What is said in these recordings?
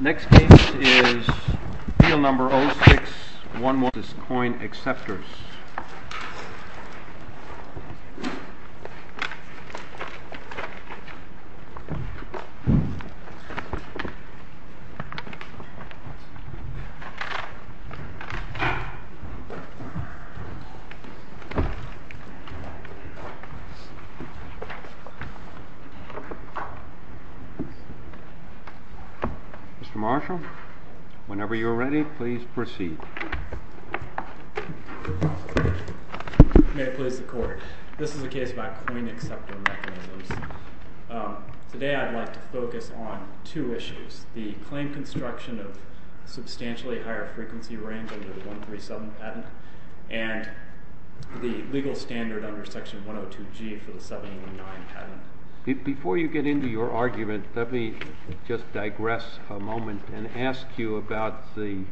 Next case is field number 06-111, Coin Acceptors. Mr. Marshall, whenever you are ready, please proceed. May it please the Court. This is a case about coin acceptor mechanisms. Today I'd like to focus on two issues. The claim construction of substantially higher frequency range under the 137 patent, and the legal standard under section 102G for the 179 patent. Before you get into your argument, let me just digress a moment and ask you about the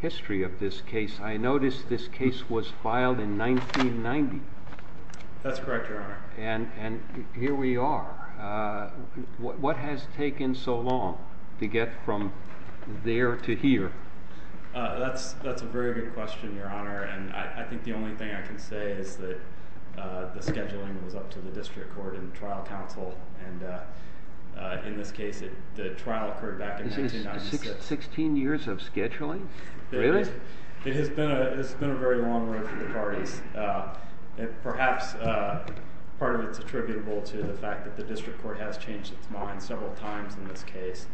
history of this case. I notice this case was filed in 1990. That's correct, Your Honor. And here we are. What has taken so long to get from there to here? That's a very good question, Your Honor. I think the only thing I can say is that the scheduling was up to the district court and trial counsel. In this case, the trial occurred back in 1996. This is 16 years of scheduling? Really? It has been a very long road for the parties. Perhaps part of it is attributable to the fact that the district court has changed its mind several times in this case,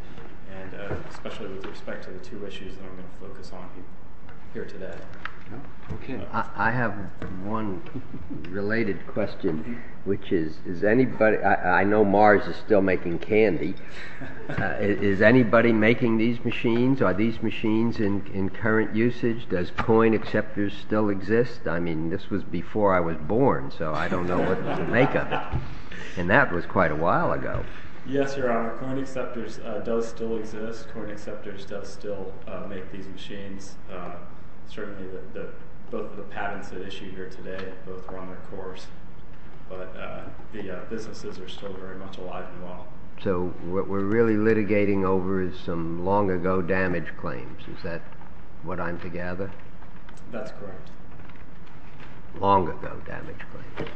especially with respect to the two issues that I'm going to focus on here today. I have one related question. I know Mars is still making candy. Is anybody making these machines? Are these machines in current usage? Does coin acceptors still exist? I mean, this was before I was born, so I don't know what to make of it. And that was quite a while ago. Yes, Your Honor. Coin acceptors does still exist. Coin acceptors does still make these machines. Certainly, both of the patents that issue here today, both are on their course. But the businesses are still very much alive and well. So what we're really litigating over is some long-ago damage claims. Is that what I'm to gather? That's correct. Long-ago damage claims.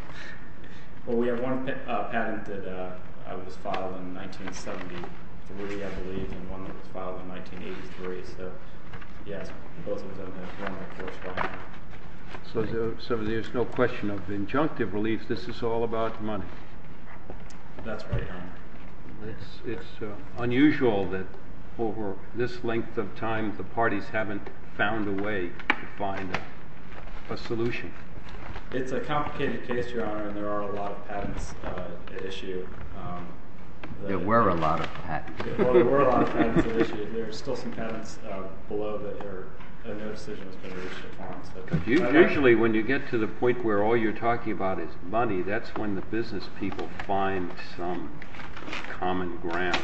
Well, we have one patent that was filed in 1973, I believe, and one that was filed in 1983. So, yes, both of them have been on their course by now. So there's no question of injunctive relief. This is all about money. That's right, Your Honor. It's unusual that over this length of time the parties haven't found a way to find a solution. It's a complicated case, Your Honor, and there are a lot of patents at issue. There were a lot of patents. There were a lot of patents at issue. There are still some patents below that no decision has been reached upon. Usually, when you get to the point where all you're talking about is money, that's when the business people find some common ground.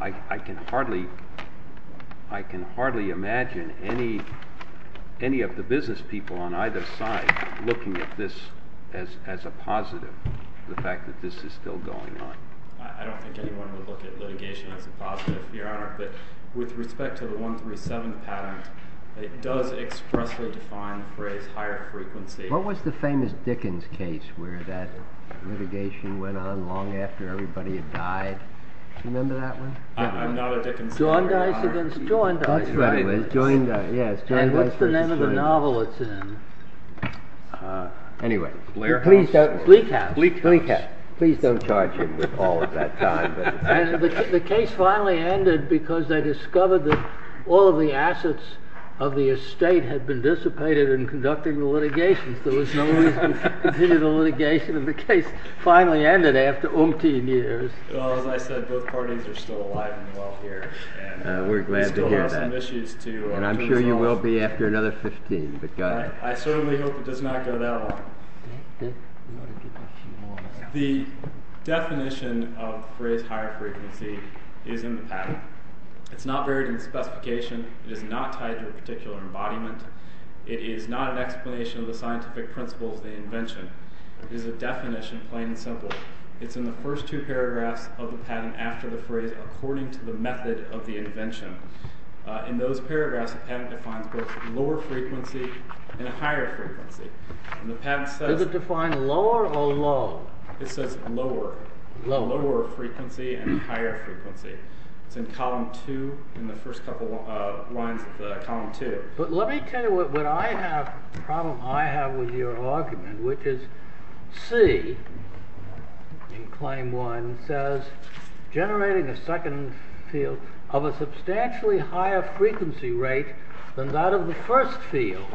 I can hardly imagine any of the business people on either side looking at this as a positive, the fact that this is still going on. I don't think anyone would look at litigation as a positive, Your Honor. But with respect to the 137 patent, it does expressly define the phrase higher frequency. What was the famous Dickens case where that litigation went on long after everybody had died? Do you remember that one? I'm not a Dickens fan, Your Honor. John Dice against John Dice. That's right. And what's the name of the novel it's in? Anyway. Leak House. Leak House. Please don't charge him with all of that time. The case finally ended because they discovered that all of the assets of the estate had been dissipated in conducting the litigation. There was no reason to continue the litigation, and the case finally ended after umpteen years. As I said, both parties are still alive and well here. We're glad to hear that. We still have some issues to resolve. And I'm sure you will be after another 15. I certainly hope it does not go that long. The definition of the phrase higher frequency is in the patent. It's not buried in the specification. It is not tied to a particular embodiment. It is not an explanation of the scientific principles of the invention. It is a definition, plain and simple. It's in the first two paragraphs of the patent after the phrase, according to the method of the invention. In those paragraphs, the patent defines both lower frequency and higher frequency. Does it define lower or low? It says lower. Lower frequency and higher frequency. It's in column two, in the first couple of lines of column two. But let me tell you what problem I have with your argument, which is C, in claim one, says generating a second field of a substantially higher frequency rate than that of the first field.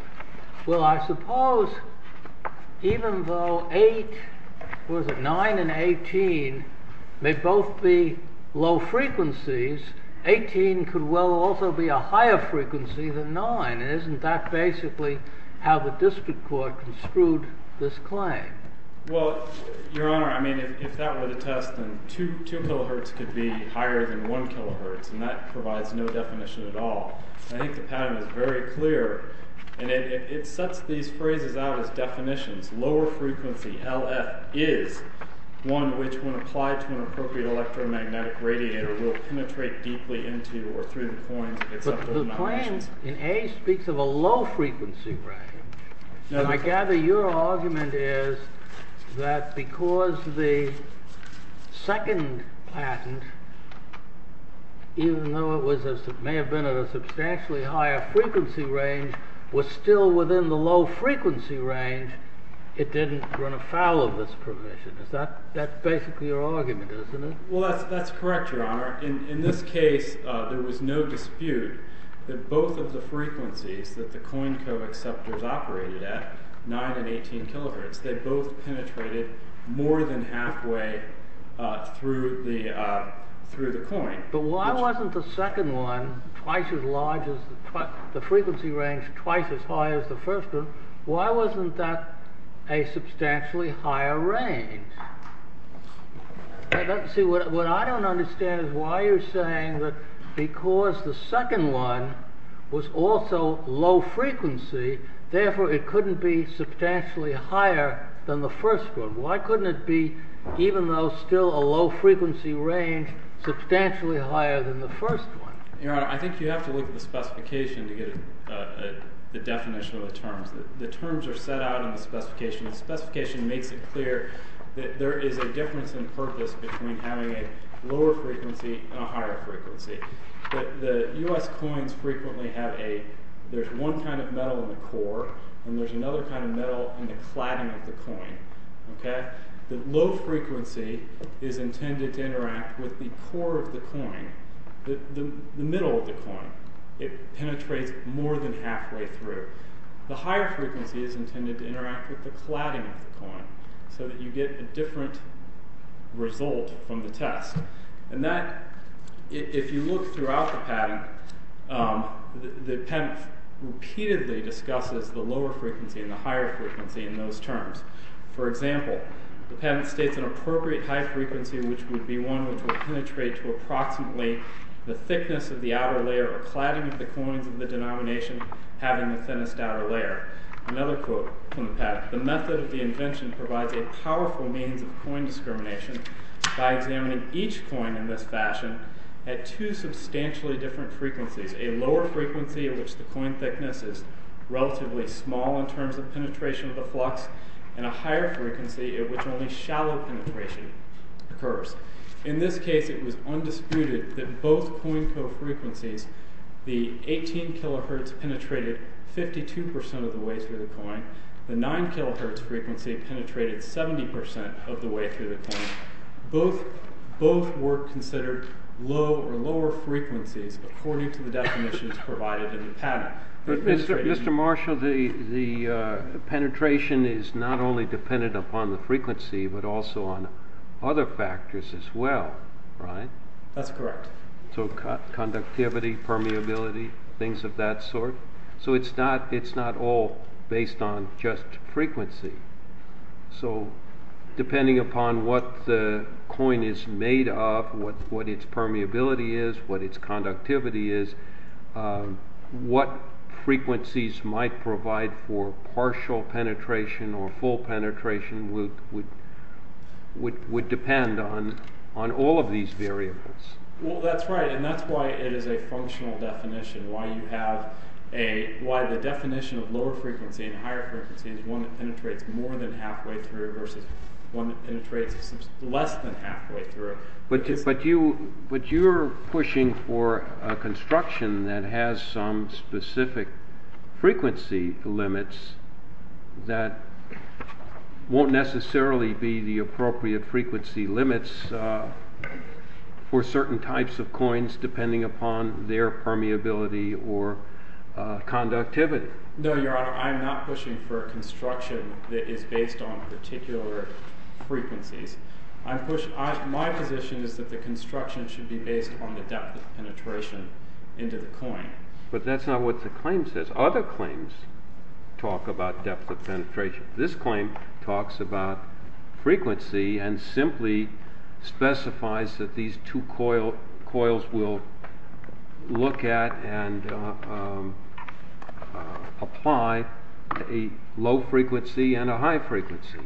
Well, I suppose even though 8, 9 and 18 may both be low frequencies, 18 could well also be a higher frequency than 9. And isn't that basically how the district court construed this claim? Well, Your Honor, I mean, if that were the test, then 2 kilohertz could be higher than 1 kilohertz. And that provides no definition at all. I think the patent is very clear. And it sets these phrases out as definitions. Lower frequency, LF, is one which, when applied to an appropriate electromagnetic radiator, will penetrate deeply into or through the coins. But the claim in A speaks of a low frequency range. And I gather your argument is that because the second patent, even though it may have been at a substantially higher frequency range, was still within the low frequency range, it didn't run afoul of this provision. That's basically your argument, isn't it? Well, that's correct, Your Honor. In this case, there was no dispute that both of the frequencies that the coin co-acceptors operated at, 9 and 18 kilohertz, they both penetrated more than halfway through the coin. But why wasn't the second one twice as large as the frequency range twice as high as the first one? Why wasn't that a substantially higher range? See, what I don't understand is why you're saying that because the second one was also low frequency, therefore it couldn't be substantially higher than the first one. Why couldn't it be, even though still a low frequency range, substantially higher than the first one? Your Honor, I think you have to look at the specification to get the definition of the terms. The terms are set out in the specification. The specification makes it clear that there is a difference in purpose between having a lower frequency and a higher frequency. The U.S. coins frequently have a, there's one kind of metal in the core, and there's another kind of metal in the cladding of the coin. The low frequency is intended to interact with the core of the coin, the middle of the coin. It penetrates more than halfway through. The higher frequency is intended to interact with the cladding of the coin, so that you get a different result from the test. And that, if you look throughout the patent, the patent repeatedly discusses the lower frequency and the higher frequency in those terms. For example, the patent states an appropriate high frequency which would be one which would penetrate to approximately the thickness of the outer layer of cladding of the coins of the denomination having the thinnest outer layer. Another quote from the patent, the method of the invention provides a powerful means of coin discrimination by examining each coin in this fashion at two substantially different frequencies. A lower frequency at which the coin thickness is relatively small in terms of penetration of the flux, and a higher frequency at which only shallow penetration occurs. In this case, it was undisputed that both coin co-frequencies, the 18 kHz penetrated 52% of the way through the coin. The 9 kHz frequency penetrated 70% of the way through the coin. Both were considered low or lower frequencies according to the definitions provided in the patent. Mr. Marshall, the penetration is not only dependent upon the frequency, but also on other factors as well, right? That's correct. So conductivity, permeability, things of that sort. So it's not all based on just frequency. So depending upon what the coin is made of, what its permeability is, what its conductivity is, what frequencies might provide for partial penetration or full penetration would depend on all of these variables. Well, that's right. And that's why it is a functional definition, why the definition of lower frequency and higher frequency is one that penetrates more than halfway through versus one that penetrates less than halfway through. But you're pushing for a construction that has some specific frequency limits that won't necessarily be the appropriate frequency limits for certain types of coins depending upon their permeability or conductivity. No, Your Honor, I'm not pushing for a construction that is based on particular frequencies. My position is that the construction should be based on the depth of penetration into the coin. But that's not what the claim says. Other claims talk about depth of penetration. This claim talks about frequency and simply specifies that these two coils will look at and apply a low frequency and a high frequency.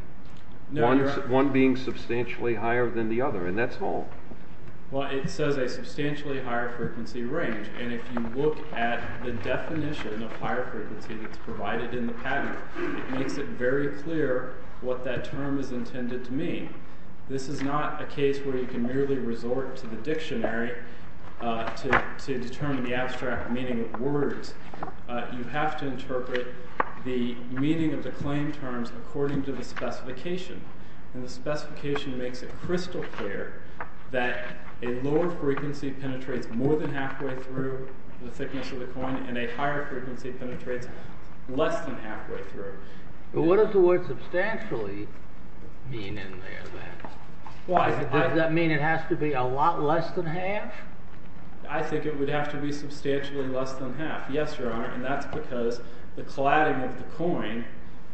One being substantially higher than the other. And that's all. Well, it says a substantially higher frequency range. And if you look at the definition of higher frequency that's provided in the pattern, it makes it very clear what that term is intended to mean. This is not a case where you can merely resort to the dictionary to determine the abstract meaning of words. You have to interpret the meaning of the claim terms according to the specification. And the specification makes it crystal clear that a lower frequency penetrates more than halfway through the thickness of the coin and a higher frequency penetrates less than halfway through. But what does the word substantially mean in there, then? Why? Does that mean it has to be a lot less than half? I think it would have to be substantially less than half. Yes, Your Honor. And that's because the cladding of the coin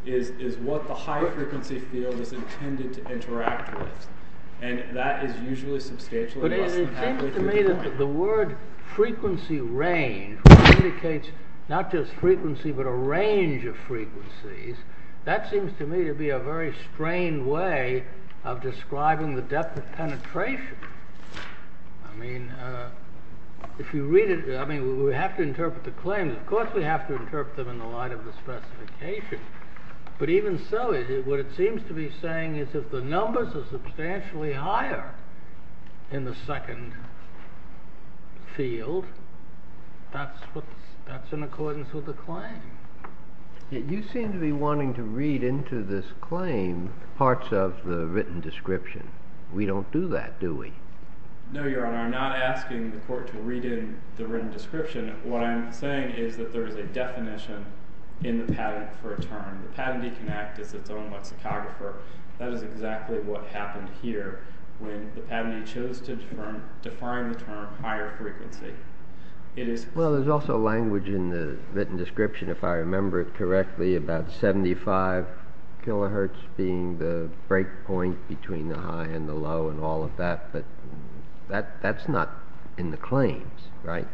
is what the high frequency field is intended to interact with. And that is usually substantially less than half. But it seems to me that the word frequency range indicates not just frequency but a range of frequencies. That seems to me to be a very strained way of describing the depth of penetration. I mean, if you read it, we have to interpret the claims. Of course, we have to interpret them in the light of the specification. But even so, what it seems to be saying is if the numbers are substantially higher in the second field, that's in accordance with the claim. You seem to be wanting to read into this claim parts of the written description. We don't do that, do we? No, Your Honor. I'm not asking the court to read in the written description. What I'm saying is that there is a definition in the patent for a term. The patentee can act as its own lexicographer. That is exactly what happened here when the patentee chose to define the term higher frequency. Well, there's also language in the written description, if I remember it correctly, about 75 kilohertz being the break point between the high and the low and all of that. But that's not in the claims, right?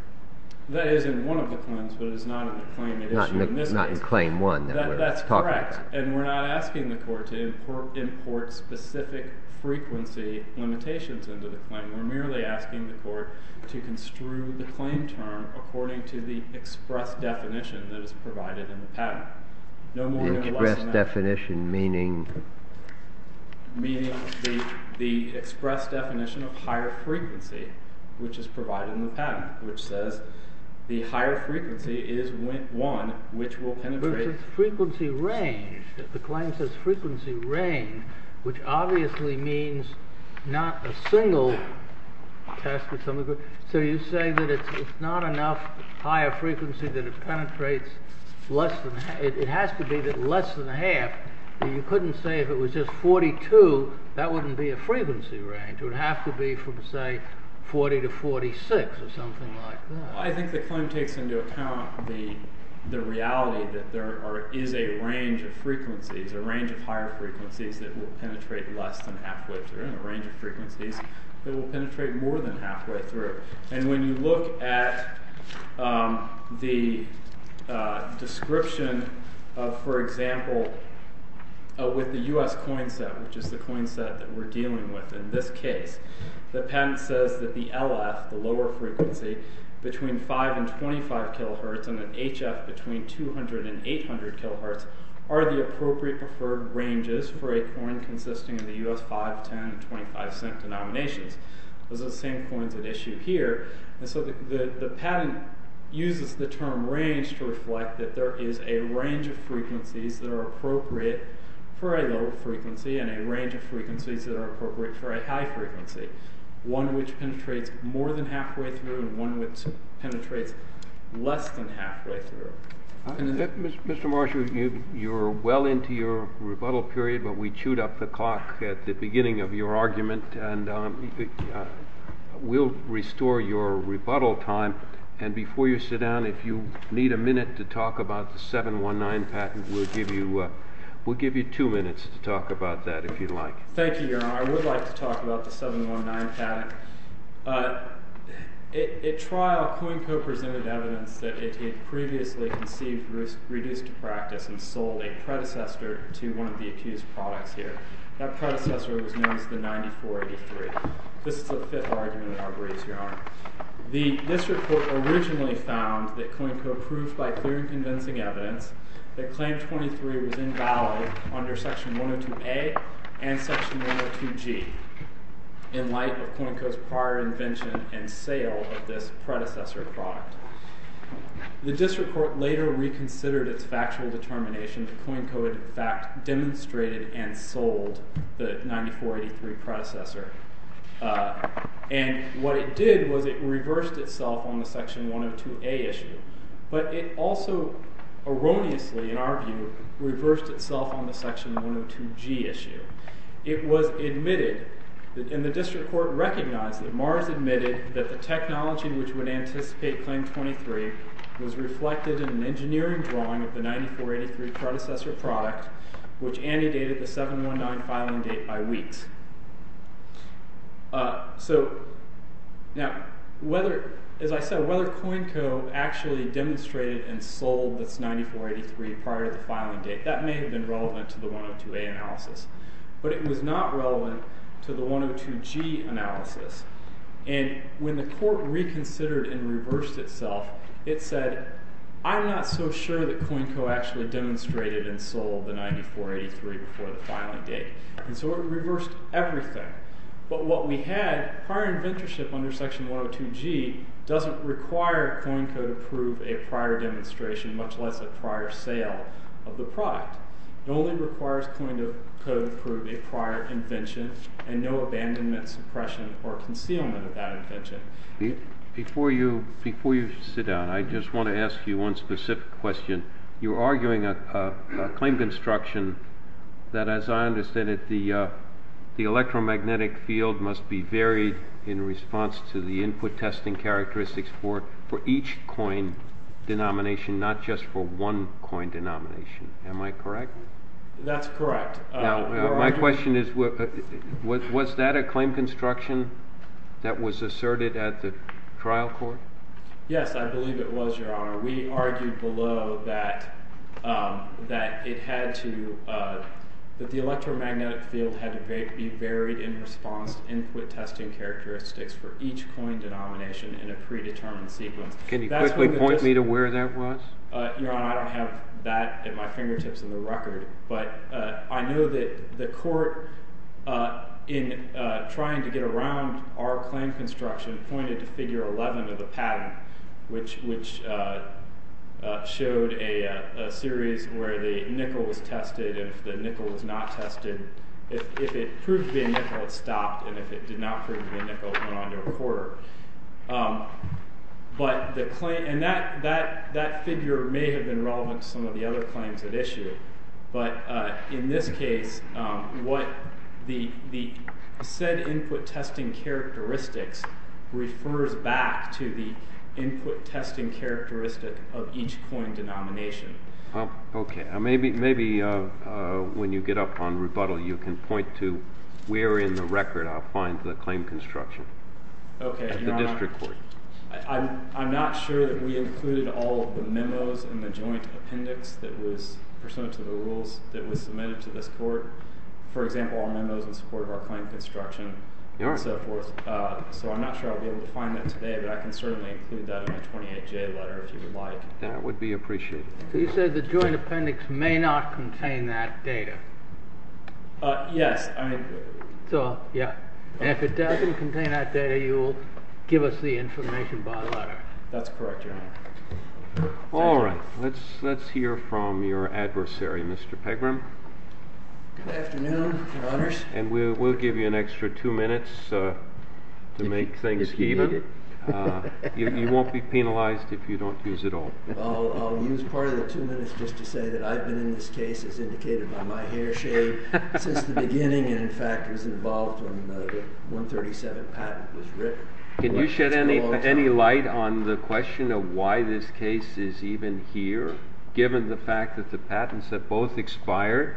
That is in one of the claims, but it is not in the claim. It's not in claim one that we're talking about. That's correct. And we're not asking the court to import specific frequency limitations into the claim. We're merely asking the court to construe the claim term according to the express definition that is provided in the patent. The express definition meaning? Meaning the express definition of higher frequency, which is provided in the patent, which says the higher frequency is one which will penetrate. The claim says frequency range, which obviously means not a single test. So you say that it's not enough higher frequency that it penetrates. It has to be less than half. You couldn't say if it was just 42, that wouldn't be a frequency range. It would have to be from, say, 40 to 46 or something like that. I think the claim takes into account the reality that there is a range of frequencies, a range of higher frequencies that will penetrate less than halfway through, and a range of frequencies that will penetrate more than halfway through. And when you look at the description of, for example, with the U.S. coin set, which is the coin set that we're dealing with in this case, the patent says that the LF, the lower frequency, between 5 and 25 kilohertz and the HF between 200 and 800 kilohertz are the appropriate preferred ranges for a coin consisting of the U.S. 5, 10, and 25 cent denominations. Those are the same coins at issue here. And so the patent uses the term range to reflect that there is a range of frequencies that are appropriate for a low frequency and a range of frequencies that are appropriate for a high frequency, one which penetrates more than halfway through and one which penetrates less than halfway through. Mr. Marshall, you're well into your rebuttal period, but we chewed up the clock at the beginning of your argument. And we'll restore your rebuttal time. And before you sit down, if you need a minute to talk about the 719 patent, we'll give you two minutes to talk about that, if you'd like. Thank you, Your Honor. I would like to talk about the 719 patent. At trial, Cohen co-presented evidence that it had previously conceived reduced to practice and sold a predecessor to one of the accused products here. That predecessor was known as the 9483. This is the fifth argument in our briefs, Your Honor. The district court originally found that Cohen co-approved by clear and convincing evidence that claim 23 was invalid under section 102a and section 102g in light of Cohen co's prior invention and sale of this predecessor product. The district court later reconsidered its factual determination that Cohen co. in fact demonstrated and sold the 9483 predecessor. And what it did was it reversed itself on the section 102a issue. But it also erroneously, in our view, reversed itself on the section 102g issue. It was admitted, and the district court recognized that Mars admitted that the technology which would anticipate claim 23 was reflected in an engineering drawing of the 9483 predecessor product, which antedated the 719 filing date by weeks. So, now, whether, as I said, whether Cohen co. actually demonstrated and sold this 9483 prior to the filing date, that may have been relevant to the 102a analysis. But it was not relevant to the 102g analysis. And when the court reconsidered and reversed itself, it said, I'm not so sure that Cohen co. actually demonstrated and sold the 9483 before the filing date. And so it reversed everything. But what we had, prior inventorship under section 102g doesn't require Cohen co. to approve a prior demonstration, much less a prior sale of the product. It only requires Cohen co. to approve a prior invention and no abandonment, suppression, or concealment of that invention. Before you sit down, I just want to ask you one specific question. You're arguing a claim construction that, as I understand it, the electromagnetic field must be varied in response to the input testing characteristics for each coin denomination, not just for one coin denomination. Am I correct? That's correct. My question is, was that a claim construction that was asserted at the trial court? Yes, I believe it was, Your Honor. We argued below that the electromagnetic field had to be varied in response to input testing characteristics for each coin denomination in a predetermined sequence. Can you quickly point me to where that was? Your Honor, I don't have that at my fingertips in the record. But I know that the court, in trying to get around our claim construction, pointed to figure 11 of the patent, which showed a series where the nickel was tested, and if the nickel was not tested, if it proved to be a nickel, it stopped, and if it did not prove to be a nickel, it went on to a quarter. And that figure may have been relevant to some of the other claims at issue, but in this case, the said input testing characteristics refers back to the input testing characteristic of each coin denomination. Okay. Maybe when you get up on rebuttal, you can point to where in the record I'll find the claim construction. Okay. At the district court. I'm not sure that we included all of the memos in the joint appendix that was pursuant to the rules that was submitted to this court. For example, our memos in support of our claim construction and so forth. So I'm not sure I'll be able to find that today, but I can certainly include that in my 28-J letter if you would like. That would be appreciated. You said the joint appendix may not contain that data. Yes. Yeah. If it doesn't contain that data, you'll give us the information by letter. That's correct, Your Honor. All right. Let's hear from your adversary, Mr. Pegram. Good afternoon, Your Honors. And we'll give you an extra two minutes to make things even. You won't be penalized if you don't use it all. I'll use part of the two minutes just to say that I've been in this case, as indicated by my hair shade, since the beginning and, in fact, was involved when the 137 patent was written. Can you shed any light on the question of why this case is even here, given the fact that the patents have both expired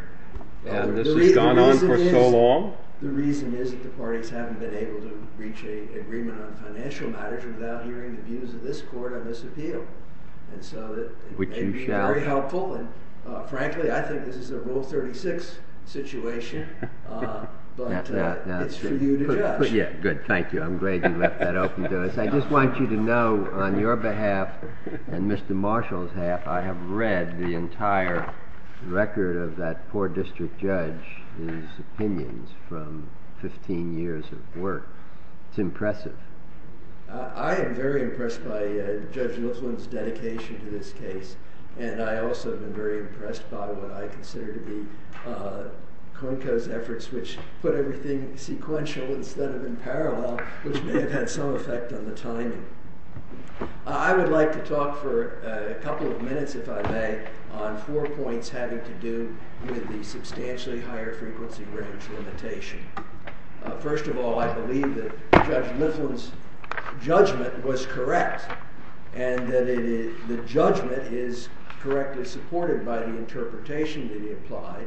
and this has gone on for so long? The reason is that the parties haven't been able to reach an agreement on financial matters without hearing the views of this court on this appeal. And so it may be very helpful. And frankly, I think this is a Rule 36 situation. But it's for you to judge. Good. Thank you. I'm glad you left that open to us. I just want you to know, on your behalf and Mr. Marshall's behalf, I have read the entire record of that poor district judge's opinions from 15 years of work. I am very impressed by Judge Lithuan's dedication to this case. And I also have been very impressed by what I consider to be Konko's efforts, which put everything sequential instead of in parallel, which may have had some effect on the timing. I would like to talk for a couple of minutes, if I may, on four points having to do with the substantially higher frequency range limitation. First of all, I believe that Judge Lithuan's judgment was correct. And that the judgment is correctly supported by the interpretation that he applied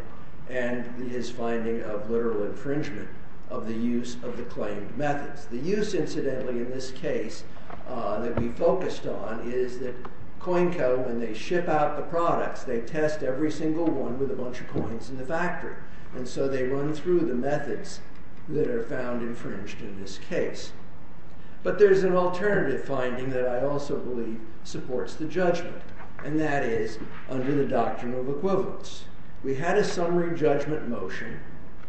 and his finding of literal infringement of the use of the claimed methods. The use, incidentally, in this case that we focused on is that Konko, when they ship out the products, they test every single one with a bunch of coins in the factory. And so they run through the methods that are found infringed in this case. But there's an alternative finding that I also believe supports the judgment. And that is under the doctrine of equivalence. We had a summary judgment motion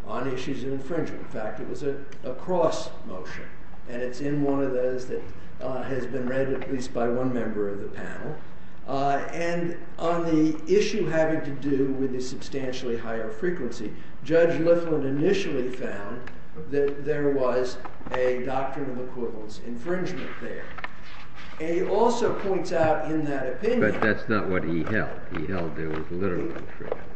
on issues of infringement. In fact, it was a cross motion. And it's in one of those that has been read at least by one member of the panel. And on the issue having to do with the substantially higher frequency, Judge Lithuan initially found that there was a doctrine of equivalence infringement there. And he also points out in that opinion. But that's not what he held. He held there was literal infringement.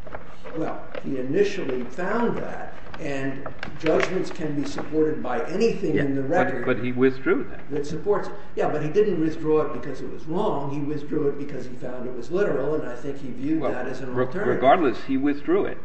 Well, he initially found that. And judgments can be supported by anything in the record. But he withdrew that. Yeah, but he didn't withdraw it because it was wrong. He withdrew it because he found it was literal. And I think he viewed that as an alternative. Regardless, he withdrew it.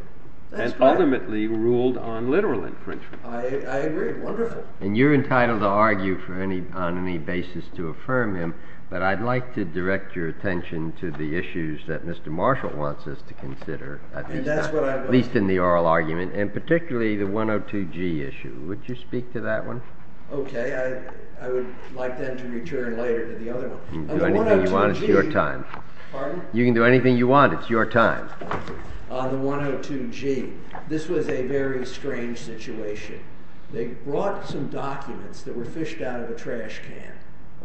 And ultimately ruled on literal infringement. I agree. Wonderful. And you're entitled to argue on any basis to affirm him. But I'd like to direct your attention to the issues that Mr. Marshall wants us to consider. At least in the oral argument. And particularly the 102G issue. Would you speak to that one? Okay. I would like then to return later to the other one. You can do anything you want. It's your time. Pardon? You can do anything you want. It's your time. The 102G. This was a very strange situation. They brought some documents that were fished out of a trash can.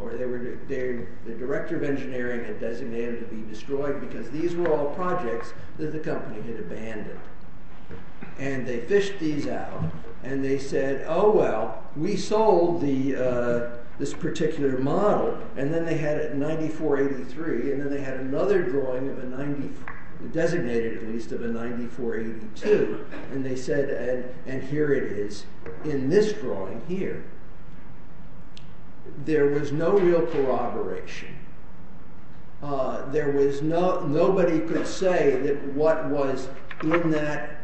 Or the director of engineering had designated them to be destroyed. Because these were all projects that the company had abandoned. And they fished these out. And they said, oh, well, we sold this particular model. And then they had a 9483. And then they had another drawing of a 90, designated at least, of a 9482. And they said, and here it is in this drawing here. There was no real corroboration. There was no, nobody could say that what was in that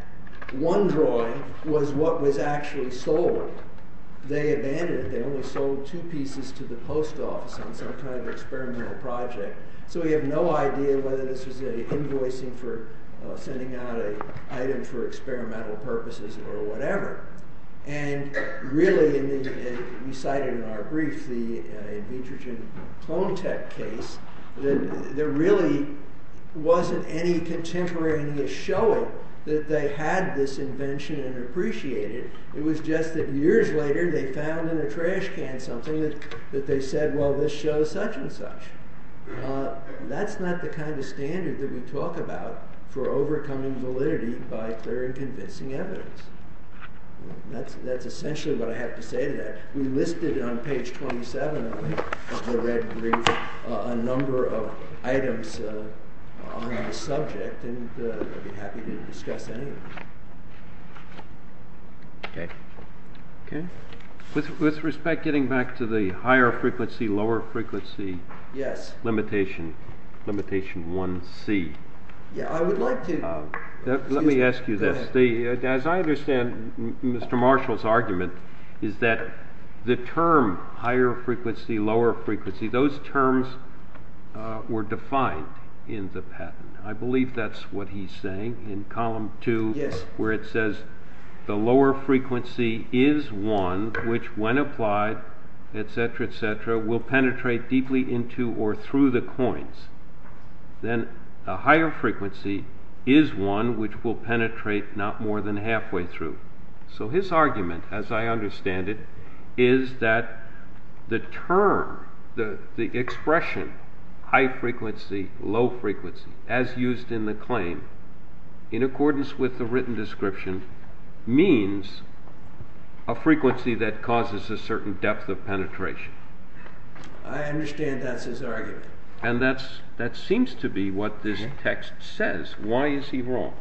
one drawing was what was actually sold. They abandoned it. They only sold two pieces to the post office on some kind of experimental project. So we have no idea whether this was an invoicing for sending out an item for experimental purposes or whatever. And really, as you cited in our brief, the nitrogen clone tech case, there really wasn't any contemporary in this showing that they had this invention and appreciated it. It was just that years later they found in a trash can something that they said, well, this shows such and such. That's not the kind of standard that we talk about for overcoming validity by clear and convincing evidence. That's essentially what I have to say to that. We listed on page 27 of the red brief a number of items on the subject. And I'd be happy to discuss any of them. Okay. Okay. With respect, getting back to the higher frequency, lower frequency limitation, limitation 1C. Yeah, I would like to. Let me ask you this. As I understand Mr. Marshall's argument is that the term higher frequency, lower frequency, those terms were defined in the patent. I believe that's what he's saying in column 2 where it says the lower frequency is 1, which when applied, etc., etc., will penetrate deeply into or through the coins. Then a higher frequency is 1, which will penetrate not more than halfway through. So his argument, as I understand it, is that the term, the expression high frequency, low frequency, as used in the claim, in accordance with the written description, means a frequency that causes a certain depth of penetration. I understand that's his argument. And that seems to be what this text says. Why is he wrong?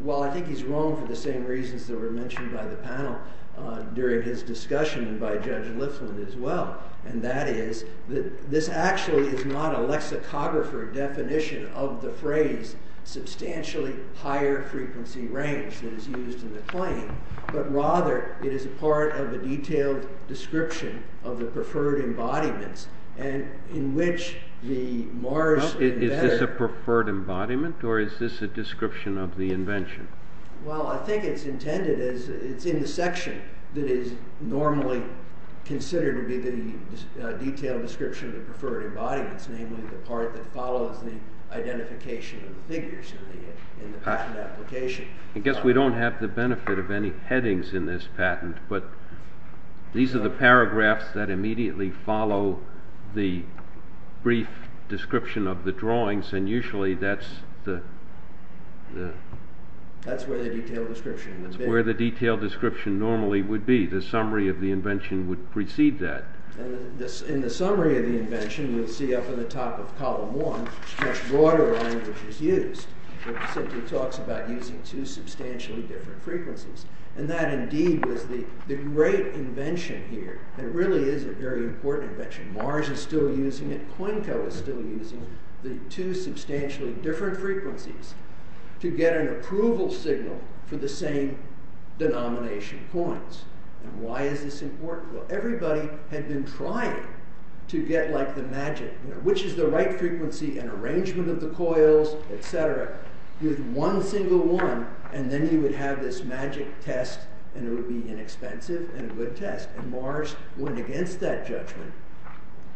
Well, I think he's wrong for the same reasons that were mentioned by the panel during his discussion and by Judge Lifland as well. And that is that this actually is not a lexicographer definition of the phrase substantially higher frequency range that is used in the claim, but rather it is a part of a detailed description of the preferred embodiments in which the Mars- Is this a preferred embodiment or is this a description of the invention? Well, I think it's intended as it's in the section that is normally considered to be the detailed description of the preferred embodiments, namely the part that follows the identification of the figures in the patent application. I guess we don't have the benefit of any headings in this patent, but these are the paragraphs that immediately follow the brief description of the drawings. And usually that's the- That's where the detailed description would be. That's where the detailed description normally would be. The summary of the invention would precede that. In the summary of the invention, we'll see up at the top of column one, much broader language is used. It simply talks about using two substantially different frequencies. And that indeed was the great invention here. It really is a very important invention. Mars is still using it. COINCO is still using the two substantially different frequencies to get an approval signal for the same denomination coins. And why is this important? Well, everybody had been trying to get like the magic, which is the right frequency and arrangement of the coils, etc. With one single one, and then you would have this magic test, and it would be inexpensive and a good test. And Mars went against that judgment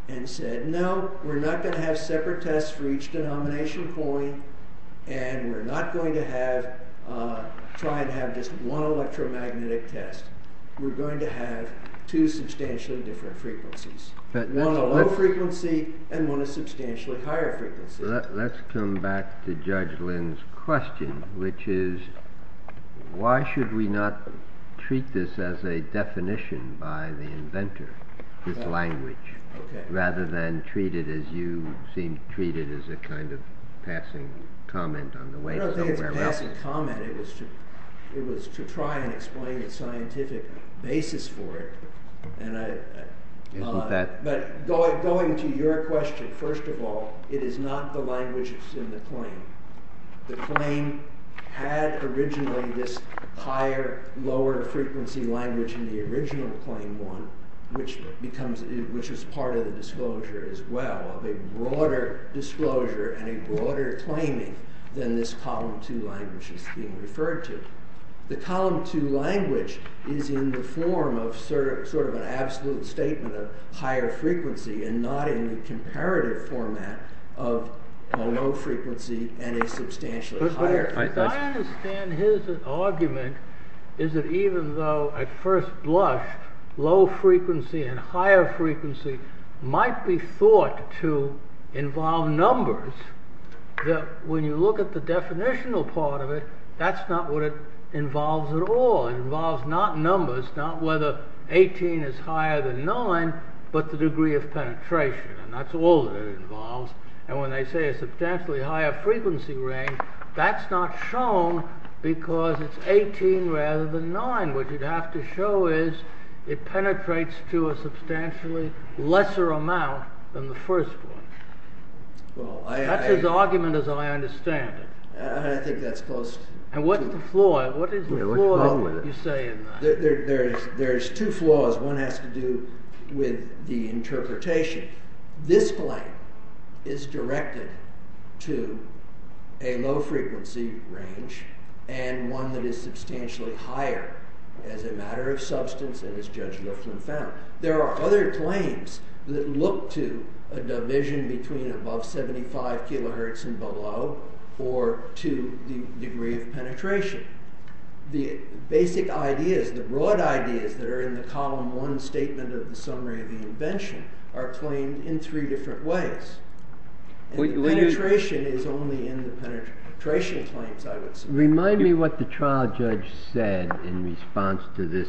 and said, No, we're not going to have separate tests for each denomination coin, and we're not going to try and have just one electromagnetic test. We're going to have two substantially different frequencies. One a low frequency, and one a substantially higher frequency. Let's come back to Judge Lynn's question, which is, why should we not treat this as a definition by the inventor, this language, rather than treat it as you seem to treat it as a kind of passing comment on the way to somewhere else. It wasn't a passing comment, it was to try and explain the scientific basis for it. But going to your question, first of all, it is not the languages in the claim. The claim had originally this higher, lower frequency language in the original claim one, which is part of the disclosure as well, a broader disclosure and a broader claiming than this column two language is being referred to. The column two language is in the form of sort of an absolute statement of higher frequency, and not in the comparative format of a low frequency and a substantially higher frequency. But I understand his argument is that even though at first blush, low frequency and higher frequency might be thought to involve numbers, that when you look at the definitional part of it, that's not what it involves at all. It involves not numbers, not whether eighteen is higher than nine, but the degree of penetration, and that's all that it involves. And when they say a substantially higher frequency range, that's not shown because it's eighteen rather than nine. What you'd have to show is it penetrates to a substantially lesser amount than the first one. That's his argument as I understand it. I think that's close. And what's the flaw? What is the flaw that you say in that? There's two flaws. One has to do with the interpretation. This claim is directed to a low frequency range, and one that is substantially higher as a matter of substance, and as Judge Lifflin found. There are other claims that look to a division between above 75 kilohertz and below, or to the degree of penetration. The basic ideas, the broad ideas that are in the column one statement of the summary of the invention are claimed in three different ways. Penetration is only in the penetration claims, I would say. Remind me what the trial judge said in response to this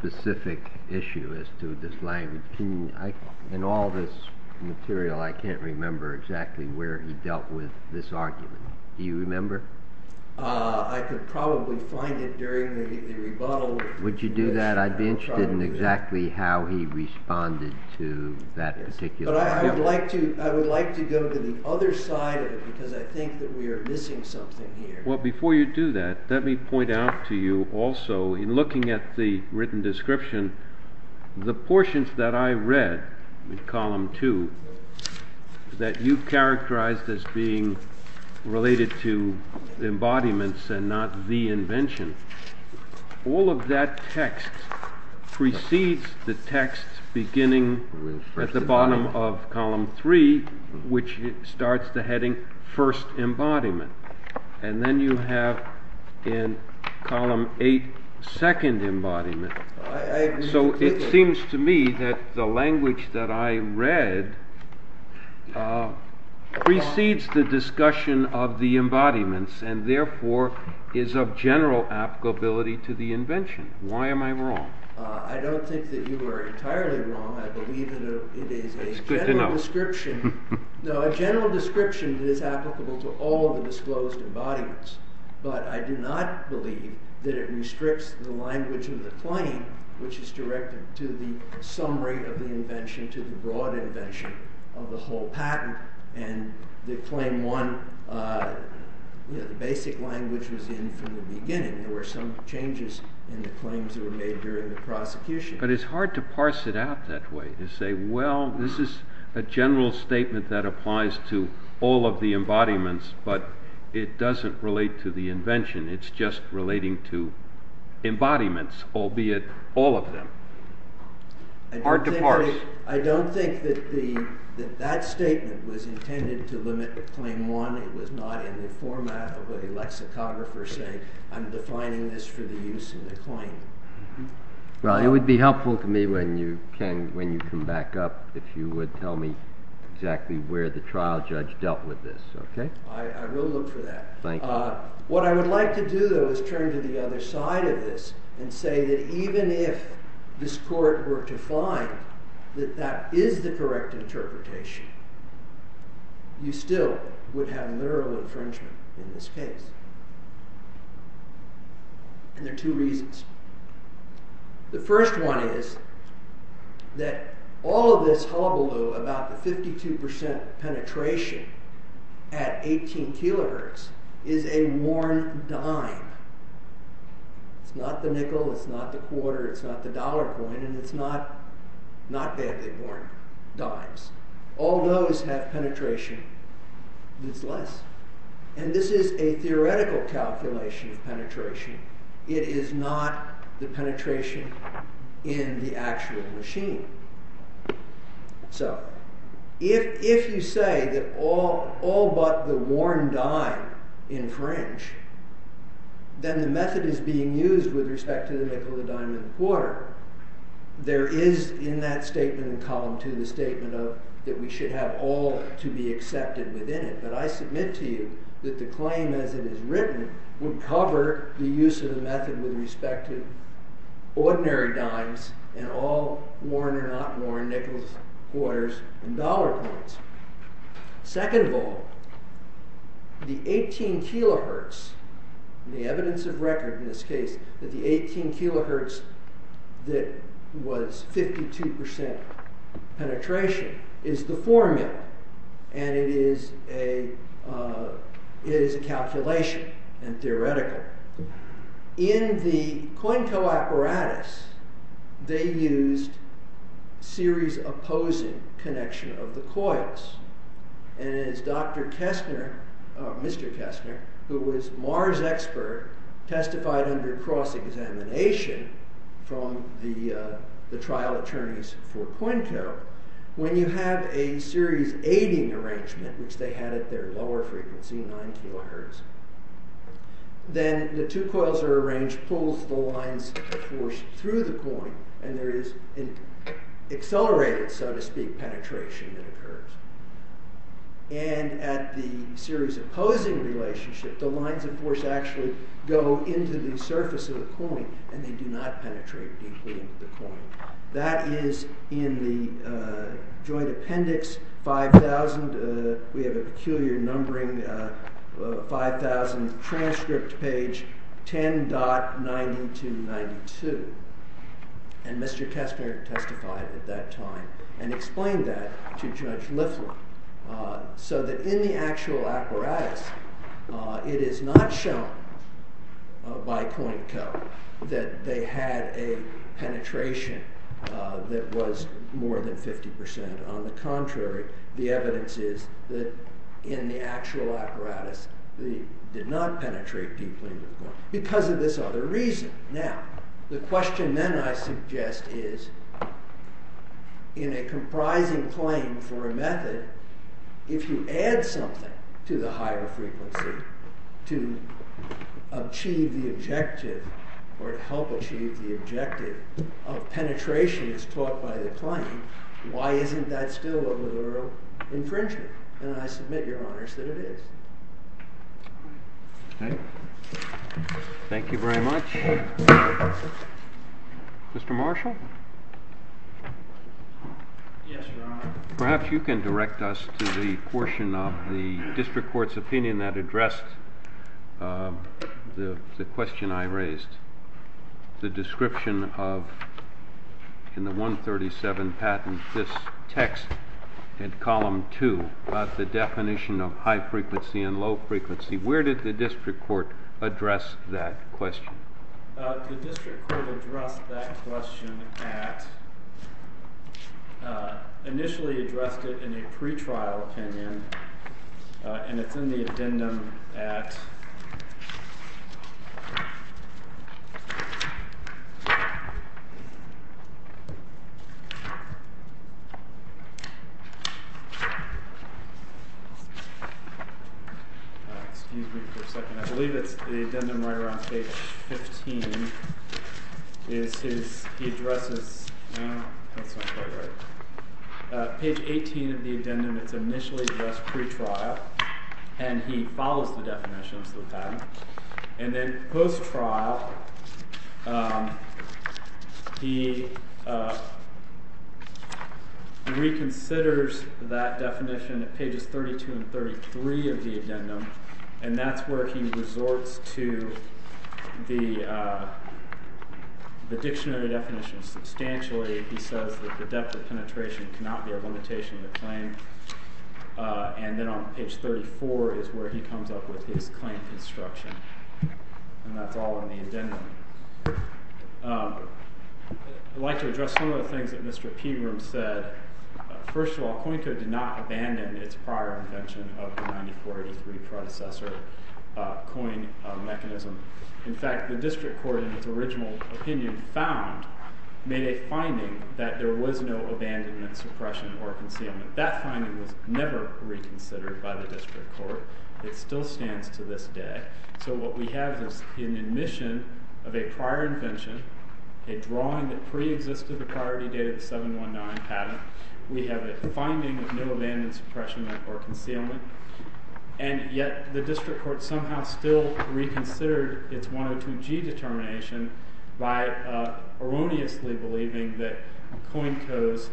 specific issue as to this language. In all this material, I can't remember exactly where he dealt with this argument. Do you remember? I could probably find it during the rebuttal. Would you do that? I'd be interested in exactly how he responded to that particular argument. I would like to go to the other side of it, because I think that we are missing something here. Before you do that, let me point out to you also, in looking at the written description, the portions that I read in column two, that you characterized as being related to embodiments and not the invention, all of that text precedes the text beginning at the bottom of column three, which starts the heading, first embodiment. And then you have in column eight, second embodiment. So it seems to me that the language that I read precedes the discussion of the embodiments and therefore is of general applicability to the invention. Why am I wrong? I don't think that you are entirely wrong. I believe that it is a general description that is applicable to all of the disclosed embodiments. But I do not believe that it restricts the language of the claim, which is directed to the summary of the invention, to the broad invention of the whole patent. And the claim one, the basic language was in from the beginning. There were some changes in the claims that were made during the prosecution. But it's hard to parse it out that way. To say, well, this is a general statement that applies to all of the embodiments, but it doesn't relate to the invention. It's just relating to embodiments, albeit all of them. Hard to parse. I don't think that that statement was intended to limit claim one. It was not in the format of a lexicographer saying, I'm defining this for the use in the claim. Well, it would be helpful to me when you come back up, if you would tell me exactly where the trial judge dealt with this. I will look for that. What I would like to do, though, is turn to the other side of this and say that even if this court were to find that that is the correct interpretation, you still would have a literal infringement in this case. And there are two reasons. The first one is that all of this hullabaloo about the 52% penetration at 18 kilohertz is a worn dime. It's not the nickel, it's not the quarter, it's not the dollar coin, and it's not badly worn dimes. All those have penetration, but it's less. And this is a theoretical calculation of penetration. It is not the penetration in the actual machine. So, if you say that all but the worn dime infringe, then the method is being used with respect to the nickel, the dime, and the quarter. There is in that statement in column two the statement of that we should have all to be accepted within it. But I submit to you that the claim as it is written would cover the use of the method with respect to ordinary dimes and all worn or not worn nickels, quarters, and dollar coins. Second of all, the 18 kilohertz, the evidence of record in this case that the 18 kilohertz that was 52% penetration is the formula, and it is a calculation and theoretical. In the Quinco apparatus, they used series opposing connection of the coils. And as Dr. Kestner, Mr. Kestner, who was Mars expert, testified under cross-examination from the trial attorneys for Quinco, when you have a series aiding arrangement, which they had at their lower frequency, 9 kilohertz, then the two coils are arranged, pulls the lines of force through the coin, and there is an accelerated, so to speak, penetration that occurs. And at the series opposing relationship, the lines of force actually go into the surface of the coin, that is in the joint appendix 5,000, we have a peculiar numbering, 5,000, transcript page 10.9292. And Mr. Kestner testified at that time and explained that to Judge Liflin. So that in the actual apparatus, it is not shown by Quinco that they had a penetration that was more than 50%. On the contrary, the evidence is that in the actual apparatus, they did not penetrate deeply into the coin, because of this other reason. Now, the question then I suggest is, in a comprising claim for a method, if you add something to the higher frequency to achieve the objective, or help achieve the objective of penetration as taught by the claim, why isn't that still a literal infringement? And I submit, Your Honors, that it is. Okay. Thank you very much. Mr. Marshall? Yes, Your Honor. Perhaps you can direct us to the portion of the district court's opinion that addressed the question I raised, the description of, in the 137 patent, this text in column 2, the definition of high frequency and low frequency. Where did the district court address that question? The district court addressed that question at, initially addressed it in a pretrial opinion, and it's in the addendum at, excuse me for a second, I believe it's the addendum right around page 15, is his, he addresses, that's not quite right, page 18 of the addendum, it's initially addressed pretrial, and he follows the definitions of the patent, and then post-trial, he reconsiders that definition at pages 32 and 33 of the addendum, and that's where he resorts to the dictionary definition substantially. He says that the depth of penetration cannot be a limitation of the claim, and then on page 34 is where he comes up with his claim construction, and that's all in the addendum. I'd like to address some of the things that Mr. Peabroom said. First of all, Coincode did not abandon its prior invention of the 9483 predecessor coin mechanism. In fact, the district court, in its original opinion, found, made a finding, that there was no abandonment, suppression, or concealment. That finding was never reconsidered by the district court. It still stands to this day. So what we have is an admission of a prior invention, a drawing that pre-existed the priority date of the 719 patent, we have a finding of no abandonment, suppression, or concealment, and yet the district court somehow still reconsidered its 102G determination by erroneously believing that Coincode's,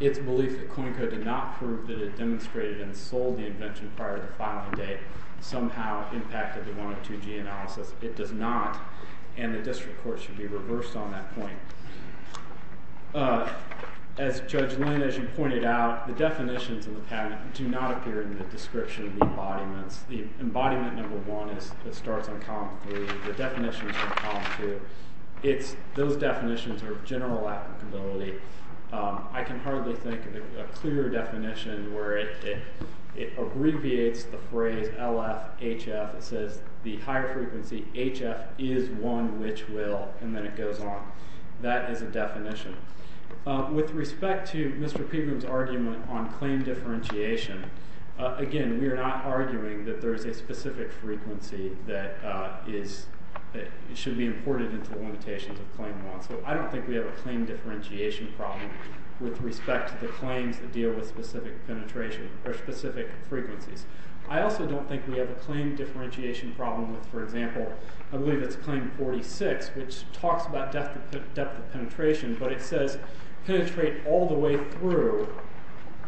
its belief that Coincode did not prove that it demonstrated and sold the invention prior to filing date somehow impacted the 102G analysis. It does not, and the district court should be reversed on that point. As Judge Lynn, as you pointed out, the definitions in the patent do not appear in the description of the embodiments. The embodiment number one starts on column three. The definitions are on column two. Those definitions are of general applicability. I can hardly think of a clearer definition where it abbreviates the phrase LFHF. It says the higher frequency HF is one which will, and then it goes on. That is a definition. With respect to Mr. Pegram's argument on claim differentiation, again, we are not arguing that there is a specific frequency that should be imported into the limitations of claim one, so I don't think we have a claim differentiation problem with respect to the claims that deal with specific penetration or specific frequencies. I also don't think we have a claim differentiation problem with, for example, I believe it's claim 46, which talks about depth of penetration, but it says penetrate all the way through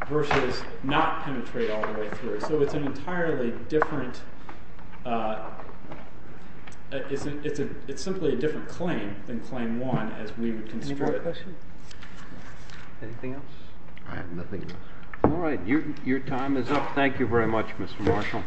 versus not penetrate all the way through. So it's an entirely different claim than claim one as we would construe it. Any more questions? Anything else? All right, nothing else. All right, your time is up. Thank you very much, Mr. Marshall. Thank you.